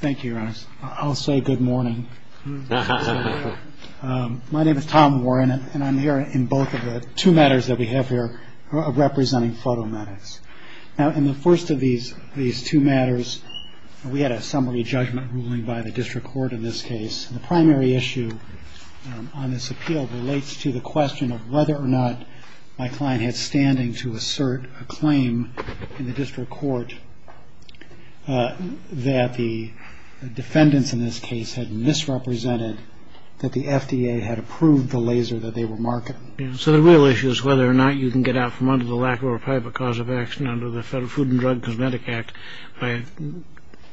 Thank you, Your Honor. I'll say good morning. My name is Tom Warren, and I'm here in both of the two matters that we have here representing photometics. Now, in the first of these two matters, we had a summary judgment ruling by the district court in this case. The primary issue on this appeal relates to the question of whether or not my client had standing to the defendants in this case had misrepresented that the FDA had approved the laser that they were marketing. So the real issue is whether or not you can get out from under the lacquerware pipe a cause of action under the Federal Food and Drug and Cosmetic Act by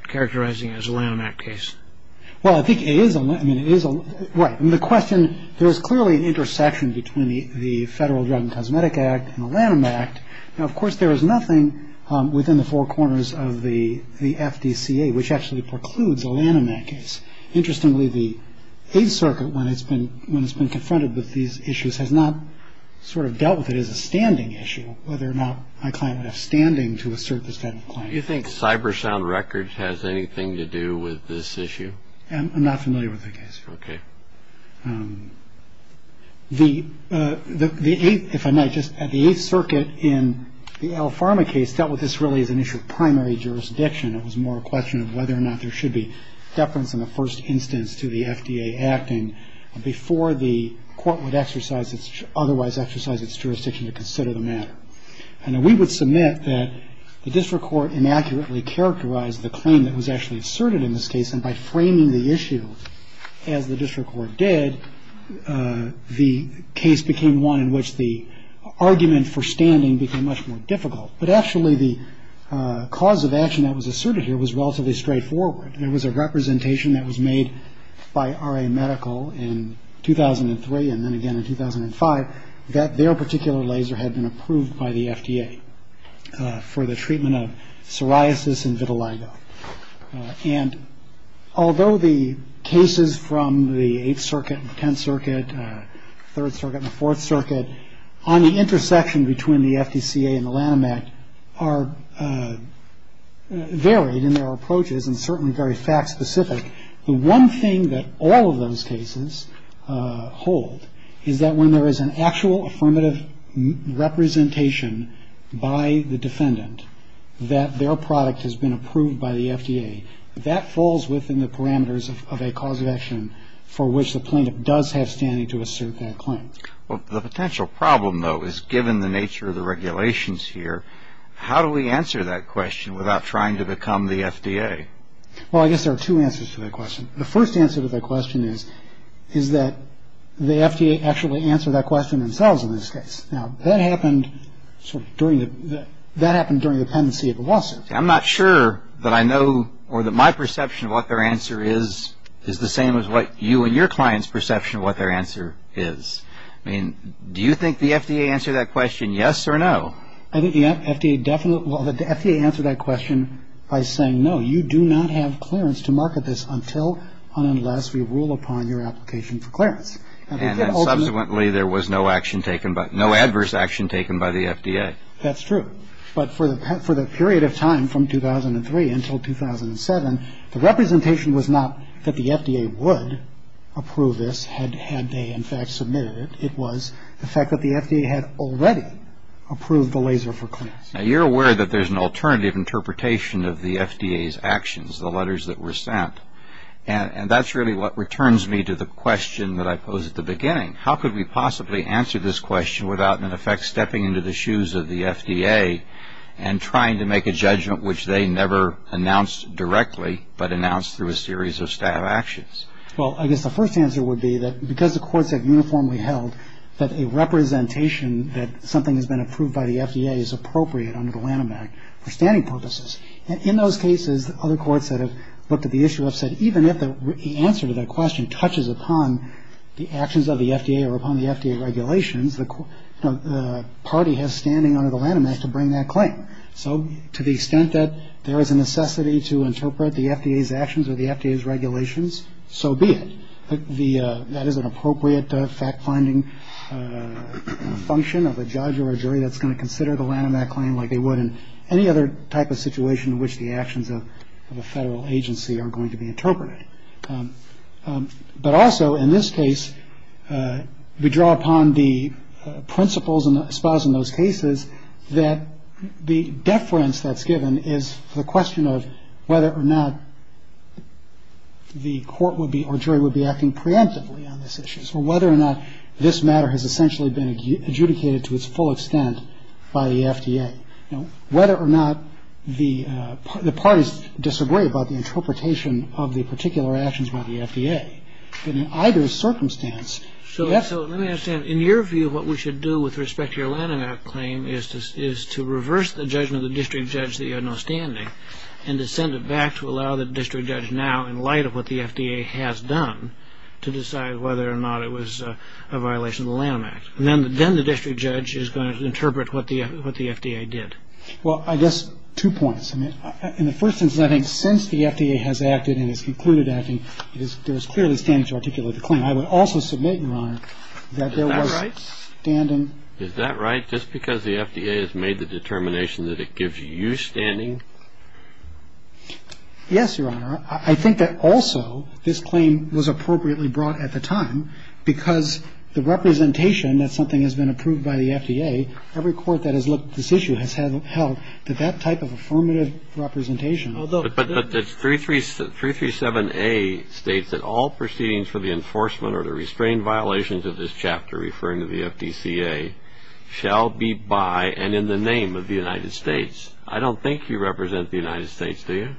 characterizing it as a Lanham Act case. Well, I think it is. I mean, it is. Right. And the question, there is clearly an intersection between the Federal Drug and Cosmetic Act and the Lanham Act. Now, of course, there is nothing within the four corners of the FDCA, which actually precludes a Lanham Act case. Interestingly, the Eighth Circuit, when it's been confronted with these issues, has not sort of dealt with it as a standing issue, whether or not my client would have standing to assert this kind of claim. Do you think CyberSound Records has anything to do with this issue? I'm not familiar with the case. Okay. The Eighth, if I might, the Eighth Circuit in the L-Pharma case dealt with this really as an issue of primary jurisdiction. It was more a question of whether or not there should be deference in the first instance to the FDA acting before the court would otherwise exercise its jurisdiction to consider the matter. And we would submit that the district court inaccurately characterized the claim that was actually asserted in this case. And by framing the issue as the district court did, the case became one in which the argument for standing became much more difficult. But actually, the cause of action that was asserted here was relatively straightforward. There was a representation that was made by RA Medical in 2003 and then again in 2005 that their particular laser had been approved by the FDA for the treatment of psoriasis and vitiligo. And although the cases from the Eighth Circuit, the Tenth Circuit, Third Circuit and the Fourth Circuit on the intersection between the FDCA and the Lanham Act are varied in their approaches and certainly very fact-specific, the one thing that all of those cases hold is that when there is an actual affirmative representation by the defendant that their product has been approved by the FDA, that falls within the parameters of a cause of action for which the plaintiff does have standing to assert that claim. Well, the potential problem, though, is given the nature of the regulations here, how do we answer that question without trying to become the FDA? Well, I guess there are two answers to that question. The first answer to that question is that the FDA actually answered that question themselves in this case. Now, that happened sort of during the pendency of the lawsuit. I'm not sure that I know or that my perception of what their answer is is the same as what you and your client's perception of what their answer is. I mean, do you think the FDA answered that question yes or no? I think the FDA definitely, well, the FDA answered that question by saying, no, you do not have clearance to market this until and unless we rule upon your application for clearance. And then subsequently there was no action taken, no adverse action taken by the FDA. That's true. But for the period of time from 2003 until 2007, the representation was not that the FDA would approve this had they, in fact, submitted it. It was the fact that the FDA had already approved the laser for clearance. Now, you're aware that there's an alternative interpretation of the FDA's actions, the letters that were sent. And that's really what returns me to the question that I posed at the beginning. How could we possibly answer this question without, in effect, stepping into the shoes of the FDA and trying to make a judgment which they never announced directly but announced through a series of staff actions? Well, I guess the first answer would be that because the courts have uniformly held that a representation that something has been approved by the FDA is appropriate under the Lanham Act for standing purposes. And in those cases, other courts that have looked at the issue have said even if the answer to that question touches upon the actions of the FDA or upon the FDA regulations, the party has standing under the Lanham Act to bring that claim. So to the extent that there is a necessity to interpret the FDA's actions or the FDA's regulations, so be it. That is an appropriate fact-finding function of a judge or a jury that's going to consider the Lanham Act claim like they would in any other type of situation in which the actions of a federal agency are going to be interpreted. But also, in this case, we draw upon the principles espoused in those cases that the deference that's given is the question of whether or not the court or jury would be acting preemptively on this issue. So whether or not this matter has essentially been adjudicated to its full extent by the FDA. Whether or not the parties disagree about the interpretation of the particular actions by the FDA. But in either circumstance, so that's So let me understand. In your view, what we should do with respect to your Lanham Act claim is to reverse the judgment of the district judge that you have no standing and to send it back to allow the district judge now, in light of what the FDA has done, to decide whether or not it was a violation of the Lanham Act. Then the district judge is going to interpret what the FDA did. Well, I guess two points. I mean, in the first instance, I think since the FDA has acted and has concluded acting, it is, there is clearly standing to articulate the claim. I would also submit, Your Honor, that there was standing. Is that right? Just because the FDA has made the determination that it gives you standing? Yes, Your Honor. I think that also this claim was appropriately brought at the time because the representation that something has been approved by the FDA, every court that has looked at this issue has held that that type of affirmative representation. But 337A states that all proceedings for the enforcement or the restrained violations of this chapter, referring to the FDCA, shall be by and in the name of the United States. I don't think you represent the United States, do you?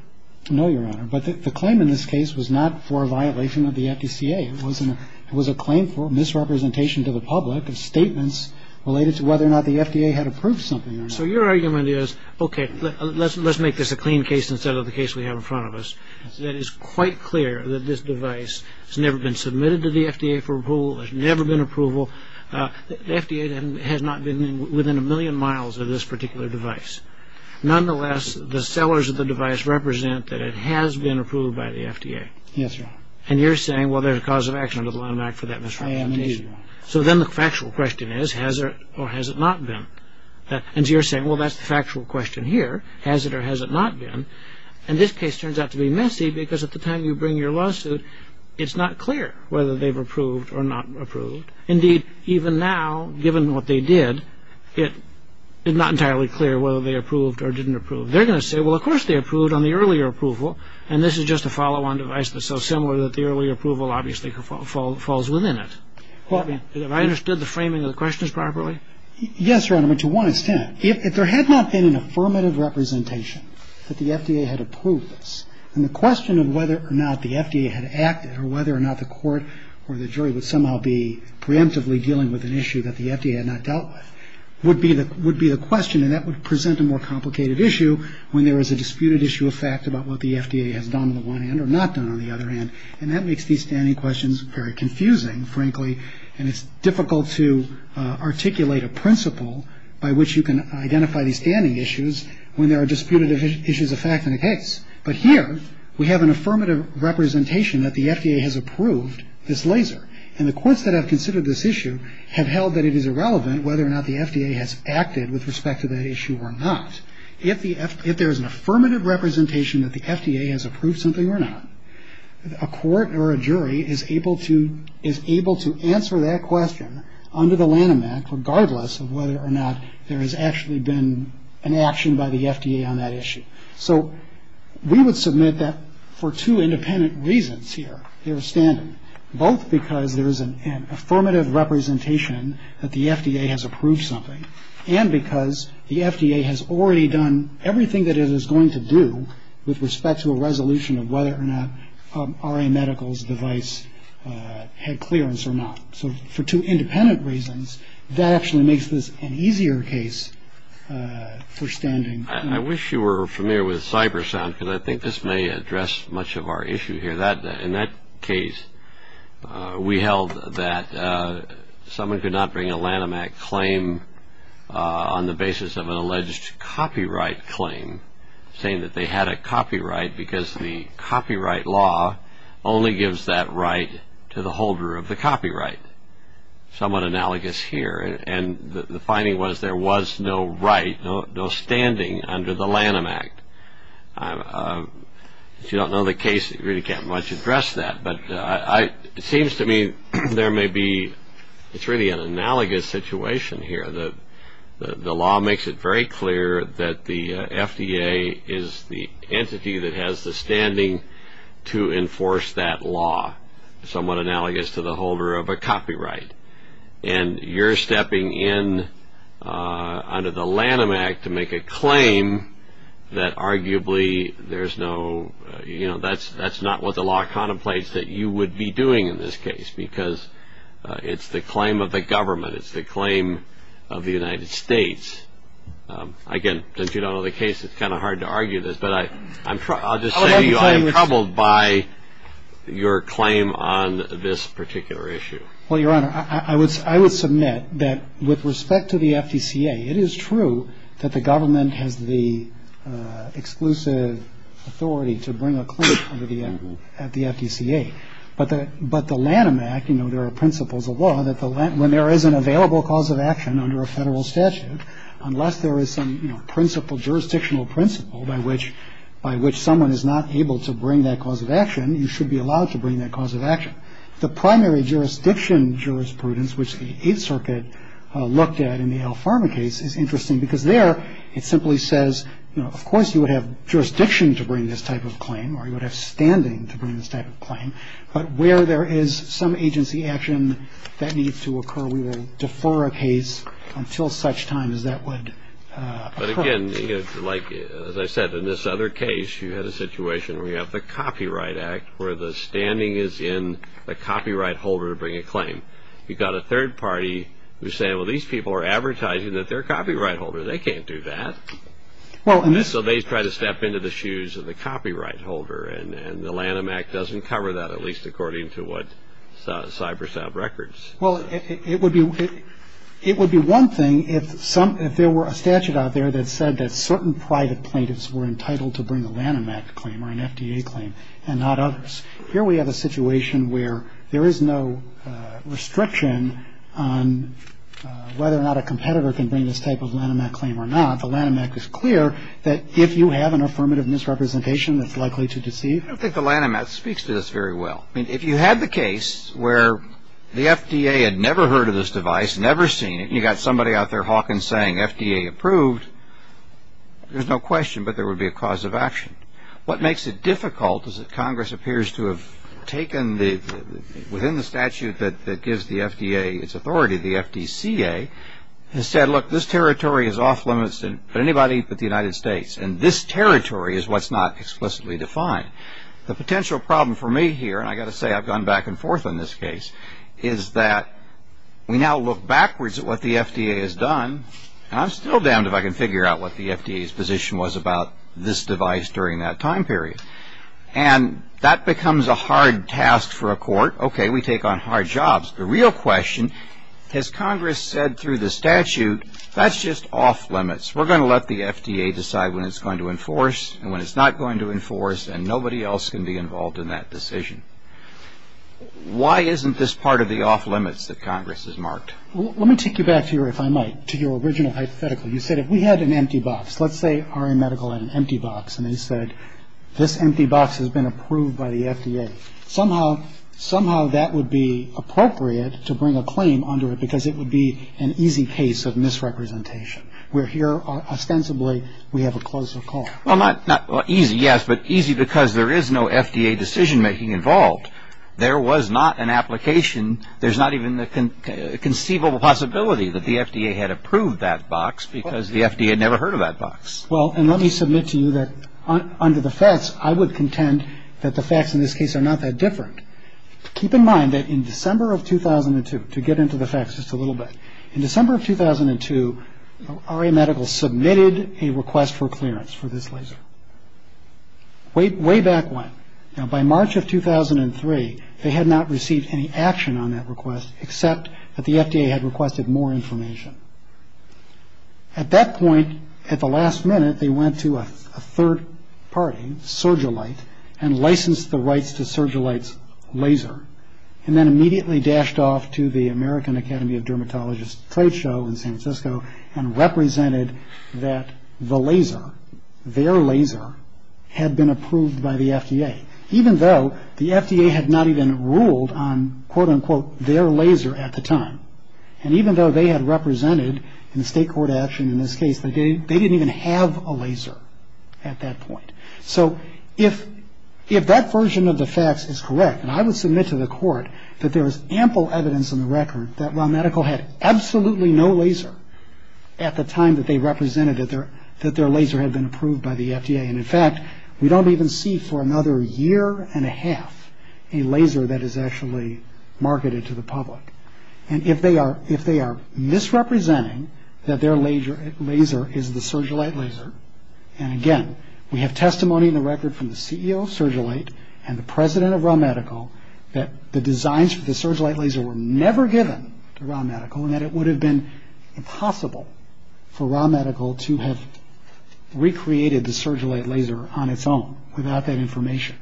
No, Your Honor. But the claim in this case was not for a violation of the FDCA. It was a claim for misrepresentation to the public of statements related to whether or not the FDA has approved something or not. So your argument is, okay, let's make this a clean case instead of the case we have in front of us, that it's quite clear that this device has never been submitted to the FDA for approval, there's never been approval. The FDA has not been within a million miles of this particular device. Nonetheless, the sellers of the device represent that it has been approved by the FDA. Yes, Your Honor. And you're saying, well, there's a cause of action under the line of act for that misrepresentation. I am, indeed. So then the factual question is, has it or has it not been? And you're saying, well, that's the factual question here. Has it or has it not been? And this case turns out to be messy because at the time you bring your lawsuit, it's not clear whether they've approved or not approved. Indeed, even now, given what they did, it's not entirely clear whether they approved or didn't approve. They're going to say, well, of course they approved on the earlier approval, and this is just a follow-on device that's so similar that the earlier approval obviously falls within it. Have I understood the framing of the questions properly? Yes, Your Honor. I mean, to one extent. If there had not been an affirmative representation that the FDA had approved this, then the question of whether or not the FDA had acted or whether or not the court or the jury would somehow be preemptively dealing with an issue that the FDA had not dealt with would be the question, and that would present a more complicated issue when there is a disputed issue of fact about what the FDA has done on the one hand or not done on the other hand, and that makes these standing questions very confusing, frankly, and it's difficult to articulate a principle by which you can identify these standing issues when there are disputed issues of fact in a case. But here, we have an affirmative representation that the FDA has approved this laser, and the courts that have considered this issue have held that it is irrelevant whether or not the FDA has acted with respect to that issue or not. If there is an affirmative representation that the FDA has approved something or not, a court or a jury is able to answer that question under the Lanham Act, regardless of whether or not there has actually been an action by the FDA on that issue. So we would submit that for two independent reasons here, they are standing, both because there is an affirmative representation that the FDA has approved something and because the FDA has already done everything that it is going to do with respect to a resolution of whether or not RA Medical's device had clearance or not. So for two independent reasons, that actually makes this an easier case for standing. I wish you were familiar with Cybersound, because I think this may address much of our issue here. In that case, we held that someone could not bring a Lanham Act claim to the court on the basis of an alleged copyright claim, saying that they had a copyright because the copyright law only gives that right to the holder of the copyright. Somewhat analogous here, and the finding was there was no right, no standing under the Lanham Act. If you don't know the case, you really can't much address that, but it seems to me there may be, it's really an analogous situation here. The law makes it very clear that the FDA is the entity that has the standing to enforce that law, somewhat analogous to the holder of a copyright. And you're stepping in under the Lanham Act to make a claim that arguably there's no, you know, that's not what the law contemplates that you would be doing in this case, because it's the claim of the government, it's the claim of the United States. Again, since you don't know the case, it's kind of hard to argue this, but I'll just say I am troubled by your claim on this particular issue. Well, Your Honor, I would submit that with respect to the FDCA, it is true that the government has the exclusive authority to bring a claim at the FDCA, but the Lanham Act, you know, there are principles of law that when there is an available cause of action under a federal statute, unless there is some, you know, principle, jurisdictional principle by which someone is not able to bring that cause of action, you should be allowed to bring that cause of action. The primary jurisdiction jurisprudence, which the Eighth Circuit looked at in the Al Farma case is interesting, because there it simply says, you know, of course you would have jurisdiction to bring this type of claim, or you would have standing to bring this type of claim, but where there is some agency action that needs to occur, we will defer a case until such time as that would occur. But again, like I said, in this other case, you had a situation where you have the Copyright Act, where the standing is in the copyright holder to bring a claim. You've got a third party who's saying, well, these people are advertising that they're a copyright holder. They can't do that. So they try to step into the shoes of the copyright holder, and the Lanham Act doesn't cover that, at least according to what CyberSav records. Well, it would be one thing if there were a statute out there that said that certain private plaintiffs were entitled to bring a Lanham Act claim, or an FDA claim, and not others. Here we have a situation where there is no restriction on whether or not a competitor can bring this type of Lanham Act claim or not. The Lanham Act is clear that if you have an affirmative misrepresentation, it's likely to deceive. You don't think the Lanham Act speaks to this very well. I mean, if you had the case where the FDA had never heard of this device, never seen it, and you got somebody out there hawking saying, FDA approved, there's no question, but there would be a cause of action. What makes it difficult is that Congress appears to have taken, within the statute that gives the FDA its authority, the FDCA, and said, look, this territory is off limits to anybody but the United States, and this territory is what's not explicitly defined. The potential problem for me here, and I've got to say I've gone back and forth on this case, is that we now look backwards at what the FDA has done, and I'm still damned if I can figure out what the FDA's position was about this device during that time period. And that becomes a hard task for a court. Okay, we take on hard jobs. The real question, has Congress said through the statute, that's just off limits. We're going to let the FDA decide when it's going to enforce and when it's not going to enforce, and nobody else can be involved in that decision. Why isn't this part of the off limits that Congress has marked? Well, let me take you back here, if I might, to your original hypothetical. You said if we had an empty box, let's say RA Medical had an empty box, and they said, this empty box has been approved by the FDA. Somehow that would be appropriate to bring a claim under it, because it would be an easy case of misrepresentation. Where here, ostensibly, we have a closer call. Well, not easy, yes, but easy because there is no FDA decision making involved. There was not an application, there's not even the conceivable possibility that the FDA had approved that box, because the FDA had never heard of that box. Well, and let me submit to you that under the facts, I would contend that the facts in this case are not that different. Keep in mind that in December of 2002, to get into the facts just a little bit, in December of 2002, RA Medical submitted a request for clearance for this laser. Way back when, by March of 2003, they had not received any action on that request except that the FDA had requested more information. At that point, at the last minute, they went to a third party, Surgilite, and licensed the rights to Surgilite's laser, and then immediately dashed off to the American Academy of Dermatologists trade show in San Francisco and represented that the laser, their laser, had been approved by the FDA. Even though the FDA had not even ruled on, quote, unquote, their laser at the time, and they didn't even have a laser at that point. So if that version of the facts is correct, and I would submit to the court that there is ample evidence in the record that RA Medical had absolutely no laser at the time that they represented that their laser had been approved by the FDA. And, in fact, we don't even see for another year and a half a laser that is actually marketed to the public. And if they are misrepresenting that their laser is the Surgilite laser, and, again, we have testimony in the record from the CEO of Surgilite and the president of RA Medical that the designs for the Surgilite laser were never given to RA Medical and that it would have been impossible for RA Medical to have recreated the Surgilite laser on its own without that information,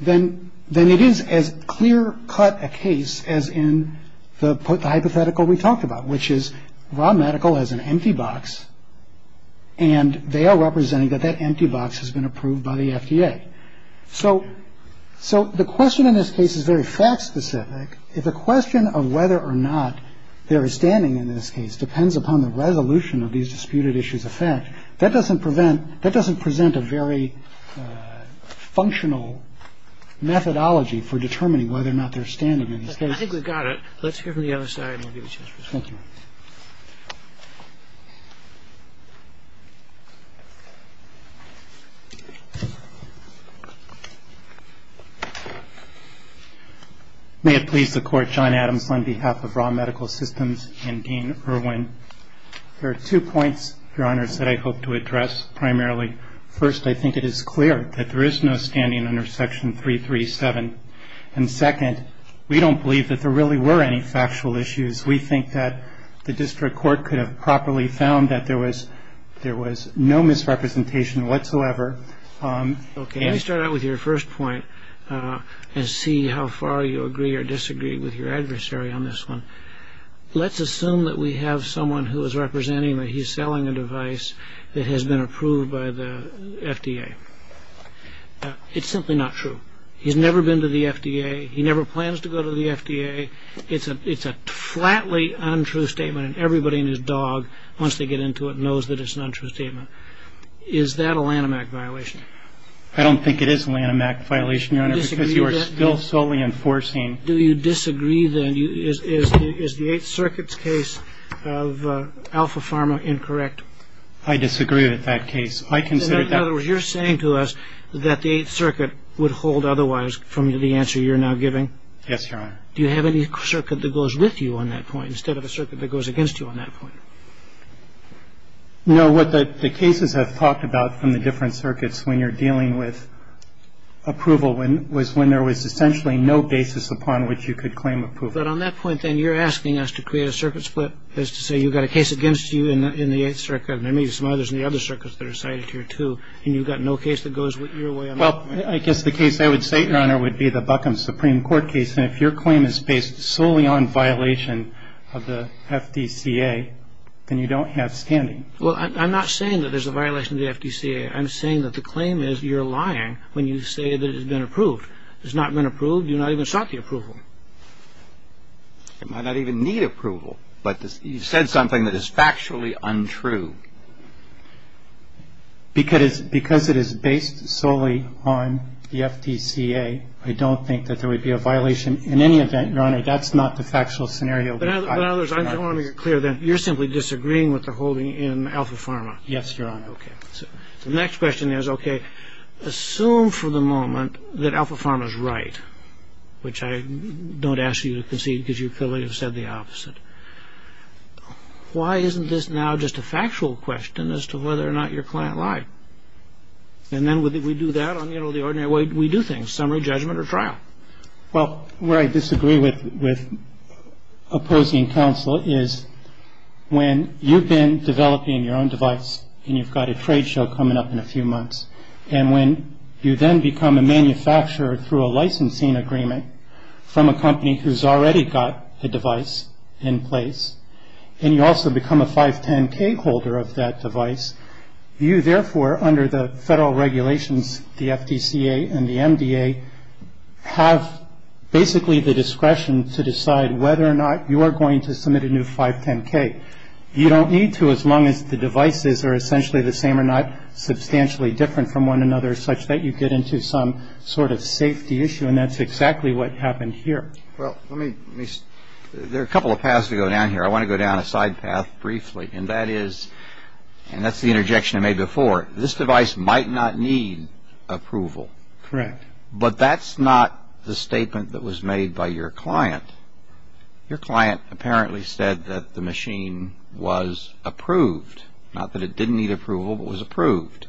then it is as clear-cut a case as in the hypothetical we talked about, which is RA Medical has an empty box, and they are representing that that empty box has been approved by the FDA. So the question in this case is very fact-specific. If the question of whether or not they are standing in this case depends upon the resolution of these disputed issues of fact, that doesn't present a very functional methodology for determining whether or not they are standing in this case. I think we've got it. Let's hear from the other side, and we'll give you a chance to respond. Thank you. May it please the Court, John Adams on behalf of RA Medical Systems and Dean Irwin. There are two points, Your Honors, that I hope to address primarily. First, I think it is clear that there is no standing under Section 337. And second, we don't believe that there really were any factual issues. We think that the district court could have properly found that there was no misrepresentation whatsoever. Okay, let me start out with your first point and see how far you agree or disagree with your adversary on this one. Let's assume that we have someone who is representing that he It's simply not true. He's never been to the FDA. He never plans to go to the FDA. It's a flatly untrue statement, and everybody and his dog, once they get into it, knows that it's an untrue statement. Is that a Lanham Act violation? I don't think it is a Lanham Act violation, Your Honor, because you are still solely enforcing Do you disagree, then? Is the Eighth Circuit's case of Alpha Pharma incorrect? I disagree with that case. I consider that In other words, you're saying to us that the Eighth Circuit would hold otherwise from the answer you're now giving? Yes, Your Honor. Do you have any circuit that goes with you on that point instead of a circuit that goes against you on that point? No. What the cases have talked about from the different circuits when you're dealing with approval was when there was essentially no basis upon which you could claim approval. But on that point, then, you're asking us to create a circuit split, as to say you've got a case against you in the Eighth Circuit, and there may be some others in the other And you've got no case that goes with your way on that point? Well, I guess the case I would say, Your Honor, would be the Buckham Supreme Court case. And if your claim is based solely on violation of the FDCA, then you don't have standing. Well, I'm not saying that there's a violation of the FDCA. I'm saying that the claim is you're lying when you say that it has been approved. It's not been approved. You've not even sought the approval. It might not even need approval, but you said something that is factually untrue. Because it is based solely on the FDCA, I don't think that there would be a violation. In any event, Your Honor, that's not the factual scenario. But in other words, I just want to make it clear that you're simply disagreeing with the holding in Alpha Pharma. Yes, Your Honor. Okay. The next question is, okay, assume for the moment that Alpha Pharma is right, which I don't ask you to concede, because you could have said the opposite. Why isn't this now just a factual question as to whether or not your client lied? And then we do that on the ordinary way we do things, summary judgment or trial. Well, where I disagree with opposing counsel is when you've been developing your own device and you've got a trade show coming up in a few months, and when you then become a manufacturer through a licensing agreement from a company who's already got a device in place, and you also become a 510K holder of that device, you therefore, under the federal regulations, the FDCA and the MDA, have basically the discretion to decide whether or not you are going to submit a new 510K. You don't need to as long as the devices are essentially the same or not substantially different from one another, such that you get into some sort of safety issue. And that's exactly what happened here. Well, there are a couple of paths to go down here. I want to go down a side path briefly, and that's the interjection I made before. This device might not need approval. Correct. But that's not the statement that was made by your client. Your client apparently said that the machine was approved. Not that it didn't need approval, but was approved.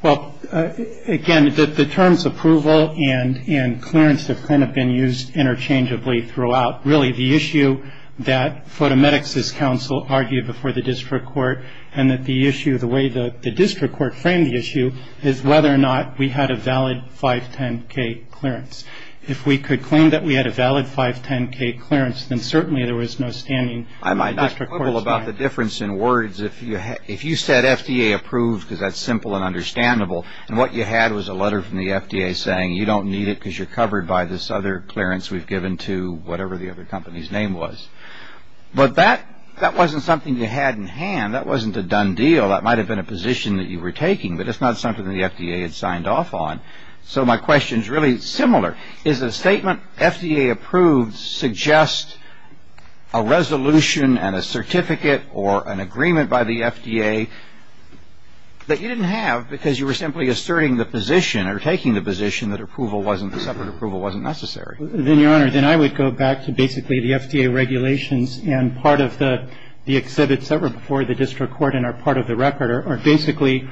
Well, again, the terms approval and clearance have kind of been used interchangeably throughout. Really, the issue that Photometics' counsel argued before the district court and that the issue, the way the district court framed the issue, is whether or not we had a valid 510K clearance. If we could claim that we had a valid 510K clearance, then certainly there was no standing. I might not quibble about the difference in words. If you said FDA approved, because that's simple and understandable, and what you had was a letter from the FDA saying you don't need it because you're covered by this other clearance we've given to whatever the other company's name was. But that wasn't something you had in hand. That wasn't a done deal. That might have been a position that you were taking, but it's not something that the FDA had signed off on. So my question is really similar. Is a statement FDA approved suggest a resolution and a certificate or an agreement by the FDA that you didn't have because you were simply asserting the position or taking the position that approval wasn't, separate approval wasn't necessary? Then, Your Honor, then I would go back to basically the FDA regulations and part of the exhibits that were before the district court and are part of the record are basically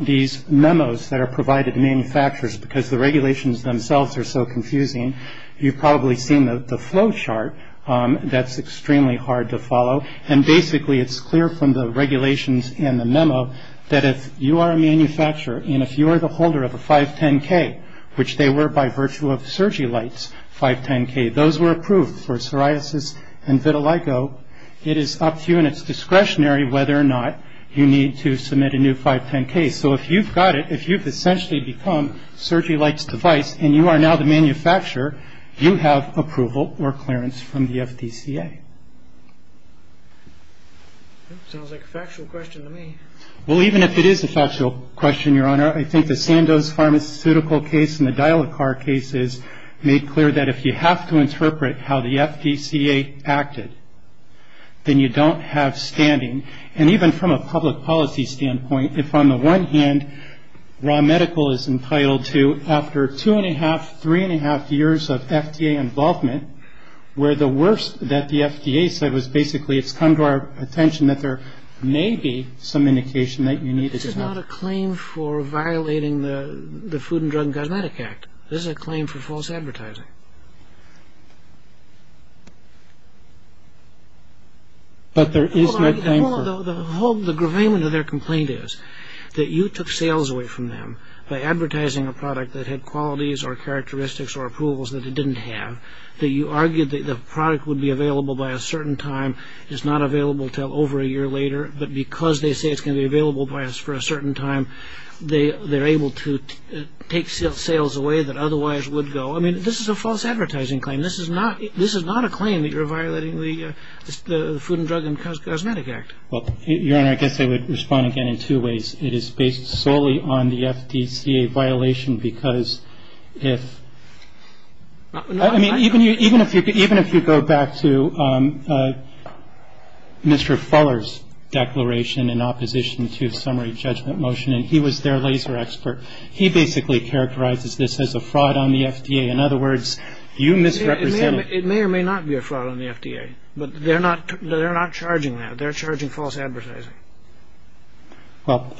these memos that are provided to manufacturers because the regulations themselves are so confusing. You've probably seen the flow chart that's extremely hard to follow. And basically, it's clear from the regulations and the memo that if you are a manufacturer and if you are the holder of a 510K, which they were by virtue of SergiLite's 510K, those were approved for psoriasis and vitiligo. It is up to you and it's discretionary whether or not you need to submit a new 510K. So if you've got it, if you've essentially become SergiLite's device and you are now the manufacturer, you have approval or clearance from the FDCA. It sounds like a factual question to me. Well, even if it is a factual question, Your Honor, I think the Sandoz pharmaceutical case and the Dial-a-Car cases made clear that if you have to interpret how the FDCA acted, then you don't have standing. And even from a public policy standpoint, if on the one hand, raw medical is entitled to after two and a half, three and a half years of FDA involvement, where the worst that the FDA said was basically it's come to our attention that there may be some indication that you need to have. This is not a claim for violating the Food and Drug and Cosmetic Act. This is a claim for false advertising. But there is no claim for... The whole, the gravamen of their complaint is that you took sales away from them by advertising a product that had qualities or characteristics or approvals that it didn't have, that you argued that the product would be available by a certain time, is not available till over a year later, but because they say it's going to be available for a certain time, they're able to take sales away that otherwise would go. I mean, this is a false advertising claim. This is not a claim that you're violating the Food and Drug and Cosmetic Act. Well, Your Honor, I guess I would respond again in two ways. It is based solely on the FDCA violation because if... I mean, even if you go back to Mr. Fuller's declaration in opposition to summary judgment motion, and he was their laser expert, he basically characterizes this as a fraud on the FDA. In other words, you misrepresent... It may or may not be a fraud on the FDA, but they're not charging that. They're charging false advertising. Well,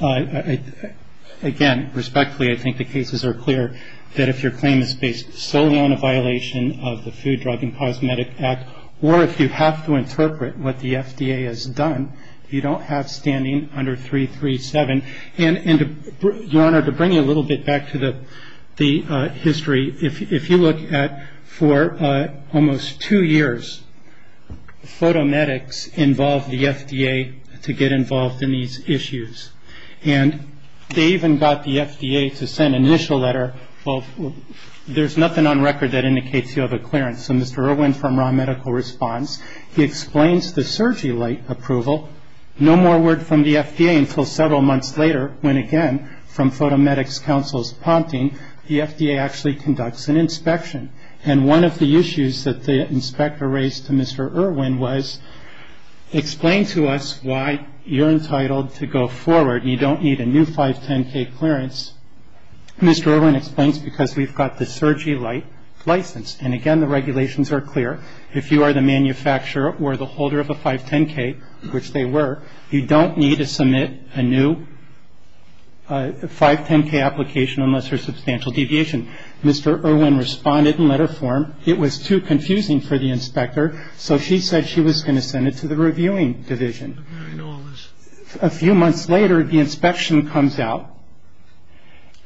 again, respectfully, I think the cases are clear that if your claim is based solely on a violation of the Food, Drug and Cosmetic Act, or if you have to interpret what the FDA has done, you don't have standing under 337. And, Your Honor, to bring you a little bit back to the history, if you look at for almost two years, photomedics involved the FDA to get involved in these issues. And they even got the FDA to send an initial letter. Well, there's nothing on record that indicates you have a clearance. So Mr. Irwin from Raw Medical Response, he explains the surgery light approval. No more word from the FDA until several months later, when again, from Photomedics Council's Ponting, the FDA actually conducts an inspection. And one of the issues that the inspector raised to Mr. Irwin was, explain to us why you're entitled to go forward. You don't need a new 510K clearance. Mr. Irwin explains because we've got the surgery light license. And again, the regulations are clear. If you are the manufacturer or the holder of a 510K, which they were, you don't need to submit a new 510K application unless there's substantial deviation. Mr. Irwin responded in letter form. It was too confusing for the inspector. So she said she was going to send it to the reviewing division. A few months later, the inspection comes out,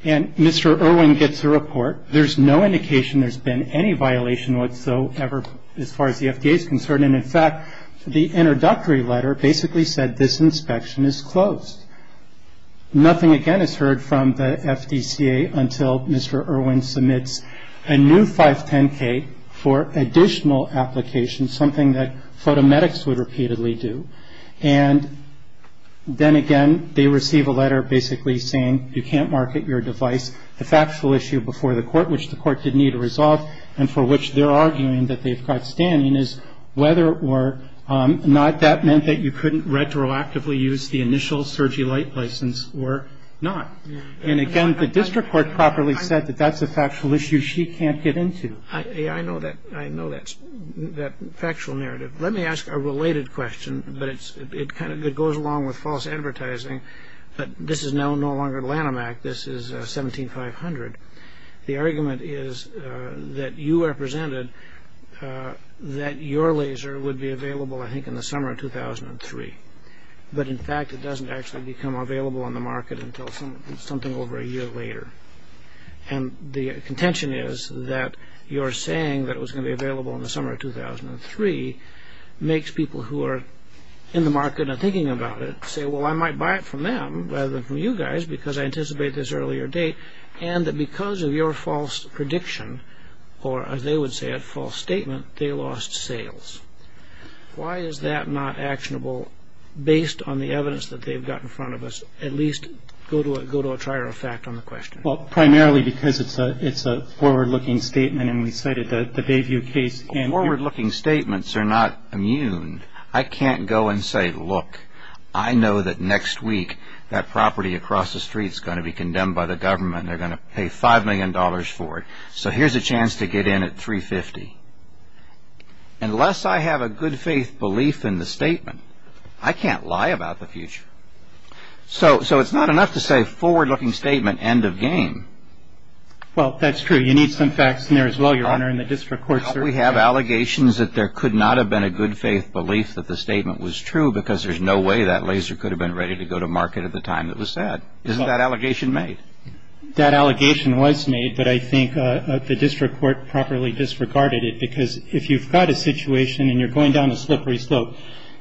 and Mr. Irwin gets a report. There's no indication there's been any violation whatsoever as far as the FDA is concerned. And in fact, the introductory letter basically said this inspection is closed. Nothing again is heard from the FDCA until Mr. Irwin submits a new 510K for additional application, something that photomedics would repeatedly do. And then again, they receive a letter basically saying you can't market your device. The factual issue before the court, which the court didn't need to resolve, and for which they're arguing that they've got standing, is whether or not that meant that you couldn't retroactively use the initial surgery light license or not. And again, the district court properly said that that's a factual issue she can't get into. I know that factual narrative. Let me ask a related question, but it kind of goes along with false advertising. But this is no longer Lanham Act. This is 17500. The argument is that you are presented that your laser would be available, I think, in the summer of 2003, but in fact, it doesn't actually become available on the market until something over a year later. And the contention is that you're saying that it was going to be available in the summer of 2003 makes people who are in the market and thinking about it say, well, I might buy it from them rather than from you guys because I anticipate this earlier date, and that because of your false prediction, or as they would say, a false statement, they lost sales. Why is that not actionable based on the evidence that they've got in front of us? At least go to a trier of fact on the question. Well, primarily because it's a forward-looking statement, and we cited the Bayview case. Forward-looking statements are not immune. I can't go and say, look. I know that next week that property across the street is going to be condemned by the government. They're going to pay $5 million for it. So here's a chance to get in at 350. Unless I have a good-faith belief in the statement, I can't lie about the future. So it's not enough to say forward-looking statement, end of game. Well, that's true. You need some facts in there as well, Your Honor, in the district court, sir. We have allegations that there could not have been a good-faith belief that the statement was true because there's no way that laser could have been ready to go to market at the time it was said. Isn't that allegation made? That allegation was made, but I think the district court properly disregarded it because if you've got a situation and you're going down a slippery slope,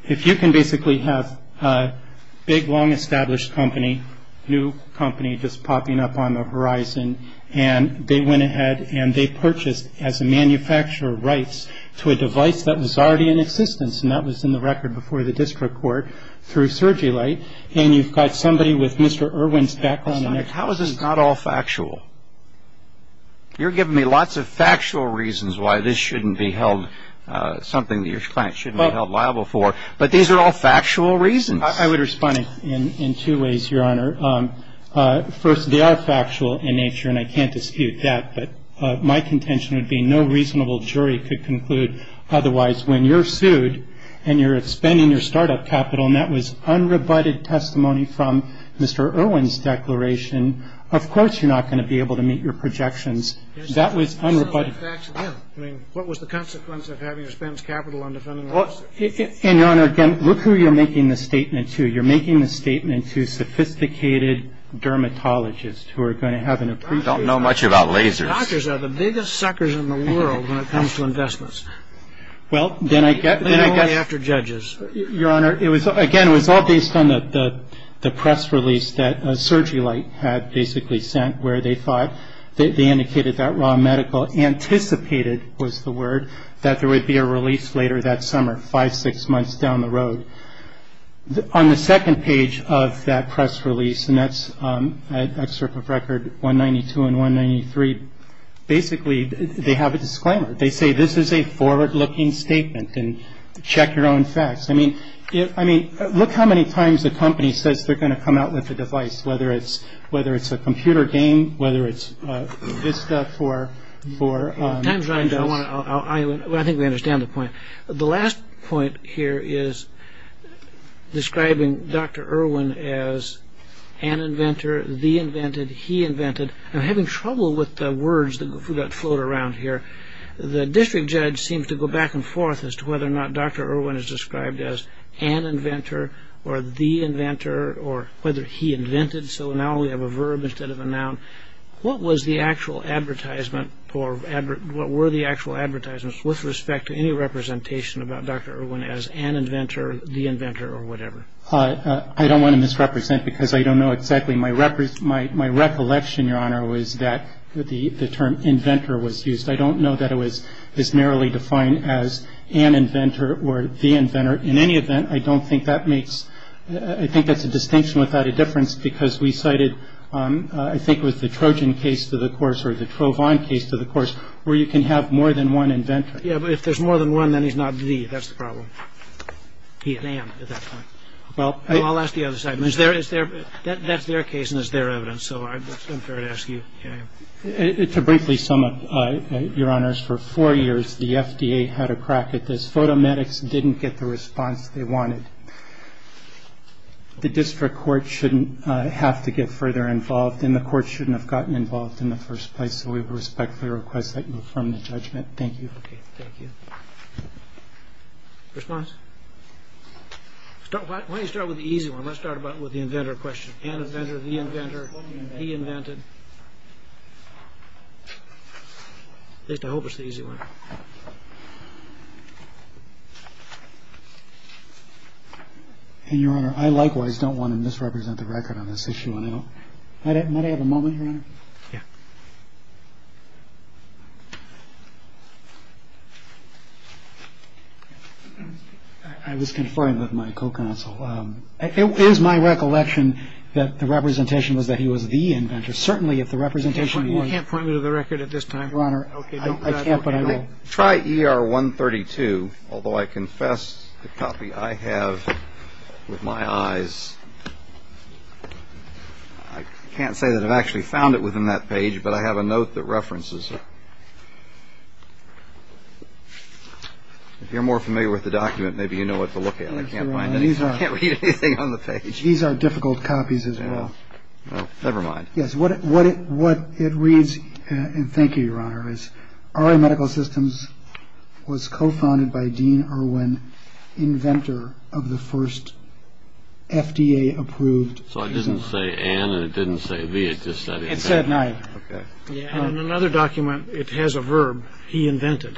if you can basically have a big, long-established company, new company just popping up on the horizon, and they went ahead and they purchased as a manufacturer rights to a device that was already in existence, and that was in the record before the district court, through Surgilite, and you've got somebody with Mr. Irwin's background in there. How is this not all factual? You're giving me lots of factual reasons why this shouldn't be held, something that your client shouldn't be held liable for, but these are all factual reasons. I would respond in two ways, Your Honor. First, they are factual in nature, and I can't dispute that, but my contention would be no reasonable jury could conclude otherwise. When you're sued and you're expending your startup capital, and that was unrebutted testimony from Mr. Irwin's declaration, of course you're not going to be able to meet your projections. That was unrebutted. What was the consequence of having to spend capital on defending the lawsuit? And, Your Honor, again, look who you're making this statement to. You're making this statement to sophisticated dermatologists who are going to have an appreciation. I don't know much about lasers. Doctors are the biggest suckers in the world when it comes to investments. Well, then I guess. They're only after judges. Your Honor, it was, again, it was all based on the press release that Surgilite had basically sent, where they thought, they indicated that raw medical anticipated, was the word, that there would be a release later that summer, five, six months down the road. On the second page of that press release, and that's an excerpt of record 192 and 193, basically they have a disclaimer. They say, this is a forward-looking statement and check your own facts. I mean, look how many times the company says they're going to come out with a device, whether it's a computer game, whether it's Vista for. Time's running, but I think we understand the point. The last point here is describing Dr. Irwin as an inventor, the invented, he invented. I'm having trouble with the words that float around here. The district judge seems to go back and forth as to whether or not Dr. Irwin is described as an inventor, or the inventor, or whether he invented. So now we have a verb instead of a noun. What was the actual advertisement, or what were the actual advertisements with respect to any representation about Dr. Irwin as an inventor, the inventor, or whatever? I don't want to misrepresent because I don't know exactly. My recollection, Your Honor, was that the term inventor was used. I don't know that it was as narrowly defined as an inventor or the inventor. In any event, I don't think that makes, I think that's a distinction without a difference because we cited, I think it was the Trojan case to the course, or the Trovan case to the course, where you can have more than one inventor. Yeah, but if there's more than one, then he's not the, that's the problem. He and I am at that point. Well, I'll ask the other side. I mean, is there, that's their case and it's their evidence, so it's unfair to ask you. To briefly sum up, Your Honors, for four years, the FDA had a crack at this. Photomedics didn't get the response they wanted. The district court shouldn't have to get further involved, and the court shouldn't have gotten involved in the first place. So we respectfully request that you affirm the judgment. Thank you. Okay, thank you. Response? Start, why don't you start with the easy one. Let's start about with the inventor question. An inventor, the inventor, he invented. At least I hope it's the easy one. And Your Honor, I likewise don't want to misrepresent the record on this issue. Might I have a moment, Your Honor? Yeah. I was confirmed with my co-counsel. It was my recollection that the representation was that he was the inventor. Certainly, if the representation was. You can't point me to the record at this time. Your Honor, I can't, but I will. Try ER 132, although I confess the copy I have with my eyes. I can't say that I've actually found it within that page, but I have a note that references it. If you're more familiar with the document, maybe you know what to look at. I can't read anything on the page. These are difficult copies as well. Never mind. Our medical systems was co-founded by Dean Irwin, inventor of the first FDA approved. So I didn't say and it didn't say V. It just said it said nine. And another document. It has a verb. He invented.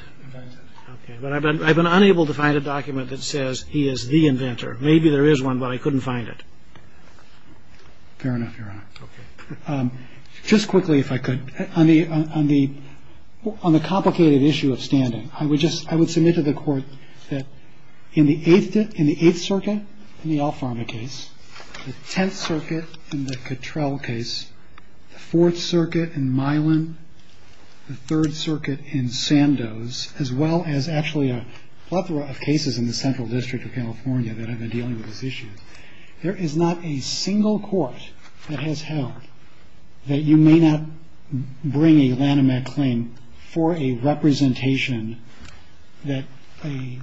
But I've been unable to find a document that says he is the inventor. Fair enough, Your Honor. Just quickly, if I could, on the on the on the complicated issue of standing, I would just I would submit to the court that in the eighth in the Eighth Circuit, in the Alpharma case, the Tenth Circuit and the Cattrell case, the Fourth Circuit in Milan, the Third Circuit in Sandoz, as well as actually a plethora of cases in the central district of California that have been dealing with this issue. There is not a single court that has held that you may not bring a Lanham Act claim for a representation that a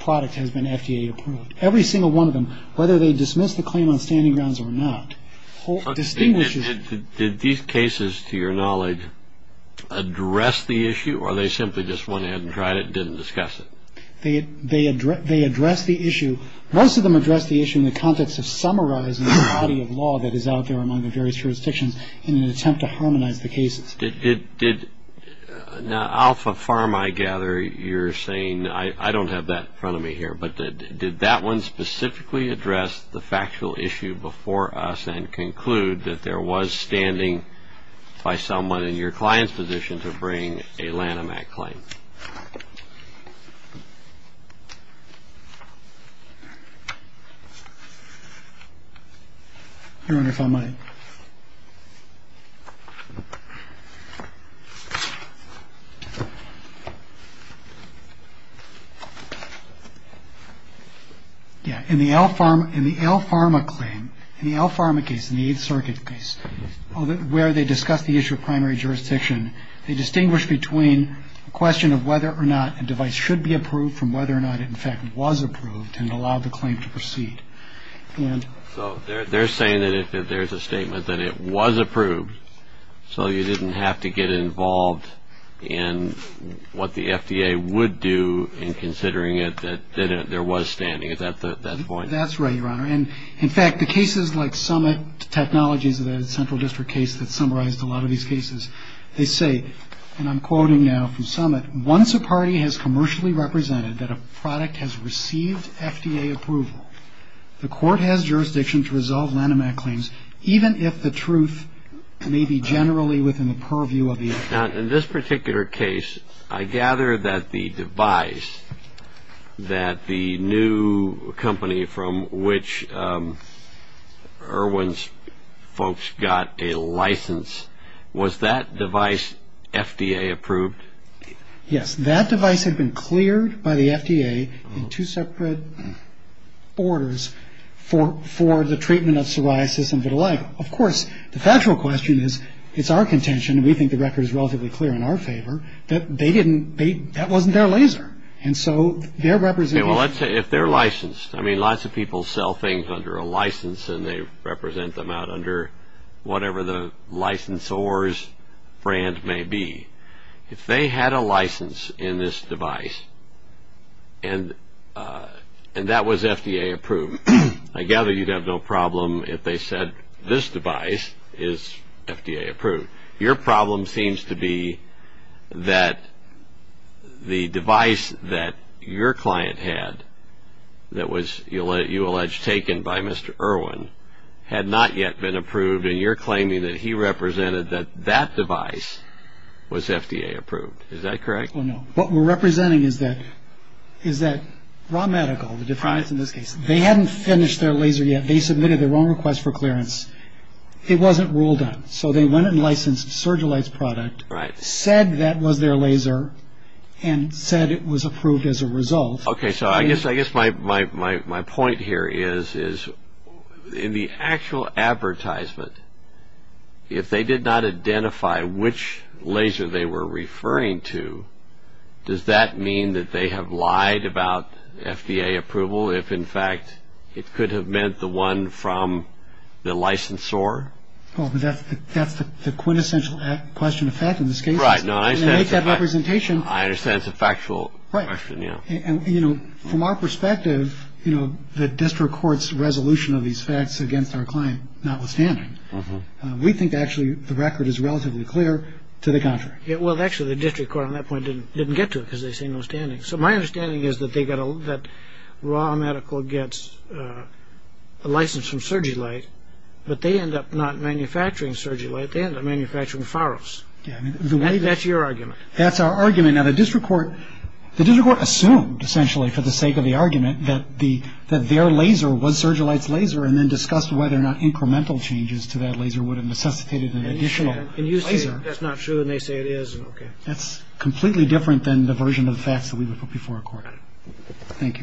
product has been FDA approved. Every single one of them, whether they dismiss the claim on standing grounds or not, distinguishes that these cases, to your knowledge, address the issue or they simply just went ahead and tried it, didn't discuss it. They they they address the issue. Most of them address the issue in the context of summarizing the body of law that is out there among the various jurisdictions in an attempt to harmonize the cases. Did did did now Alpha Pharma, I gather you're saying I don't have that in front of me here, but did that one specifically address the factual issue before us and conclude that there was standing by someone in your client's position to bring a Lanham Act claim? Your Honor, if I might. Yeah, in the L Pharma in the L Pharma claim, in the L Pharma case in the Eighth Circuit case where they discuss the issue of primary jurisdiction, they distinguish between a question of whether or not a device should be approved from whether or not, in fact, was approved and allowed the claim to proceed. And so they're saying that if there's a statement that it was approved, so you didn't have to get involved in what the FDA would do in considering it, that there was standing at that point. That's right, Your Honor. And in fact, the cases like Summit Technologies, the central district case that summarized a lot of these cases, they say, and I'm quoting now from Summit, once a party has commercially represented that a product has received FDA approval, the court has jurisdiction to resolve Lanham Act claims, even if the truth may be generally within the purview of the attorney. In this particular case, I gather that the device that the new company from which Erwin's folks got a license, was that device FDA approved? Yes, that device had been cleared by the FDA in two separate orders for the treatment of psoriasis and vitiligo. Of course, the factual question is, it's our contention, and we think the record is relatively clear in our favor, that they didn't, that wasn't their laser. And so their representation... Well, let's say if they're licensed, I mean, lots of people sell things under a license and they represent them out under whatever the licensor's brand may be. If they had a license in this device, and that was FDA approved, I gather you'd have no problem if they said, this device is FDA approved. Your problem seems to be that the device that your client had, that was, you allege, taken by Mr. Erwin, had not yet been approved, and you're claiming that he represented that that device was FDA approved. Is that correct? Well, no. What we're representing is that raw medical, the difference in this case, they hadn't finished their laser yet. They submitted their own request for clearance. It wasn't ruled on. So they went and licensed Sergilite's product, said that was their laser, and said it was approved as a result. Okay, so I guess my point here is, in the actual advertisement, if they did not identify which laser they were referring to, does that mean that they have lied about FDA approval? If, in fact, it could have meant the one from the licensor? Well, that's the quintessential question of fact in this case. Right, no, I understand. And to make that representation... I understand it's a factual question, yeah. And, you know, from our perspective, you know, the district court's resolution of these facts against our client, notwithstanding, we think, actually, the record is relatively clear to the contrary. Yeah, well, actually, the district court on that point didn't get to it, because they say no standing. So my understanding is that raw medical gets a license from Sergilite, but they end up not manufacturing Sergilite. They end up manufacturing Pharos. That's your argument. That's our argument. Now, the district court assumed, essentially, for the sake of the argument, that their laser was Sergilite's laser and then discussed whether or not incremental changes to that laser would have necessitated an additional laser. And you say that's not true, and they say it is. That's completely different than the version of the facts that we report before a court. Thank you.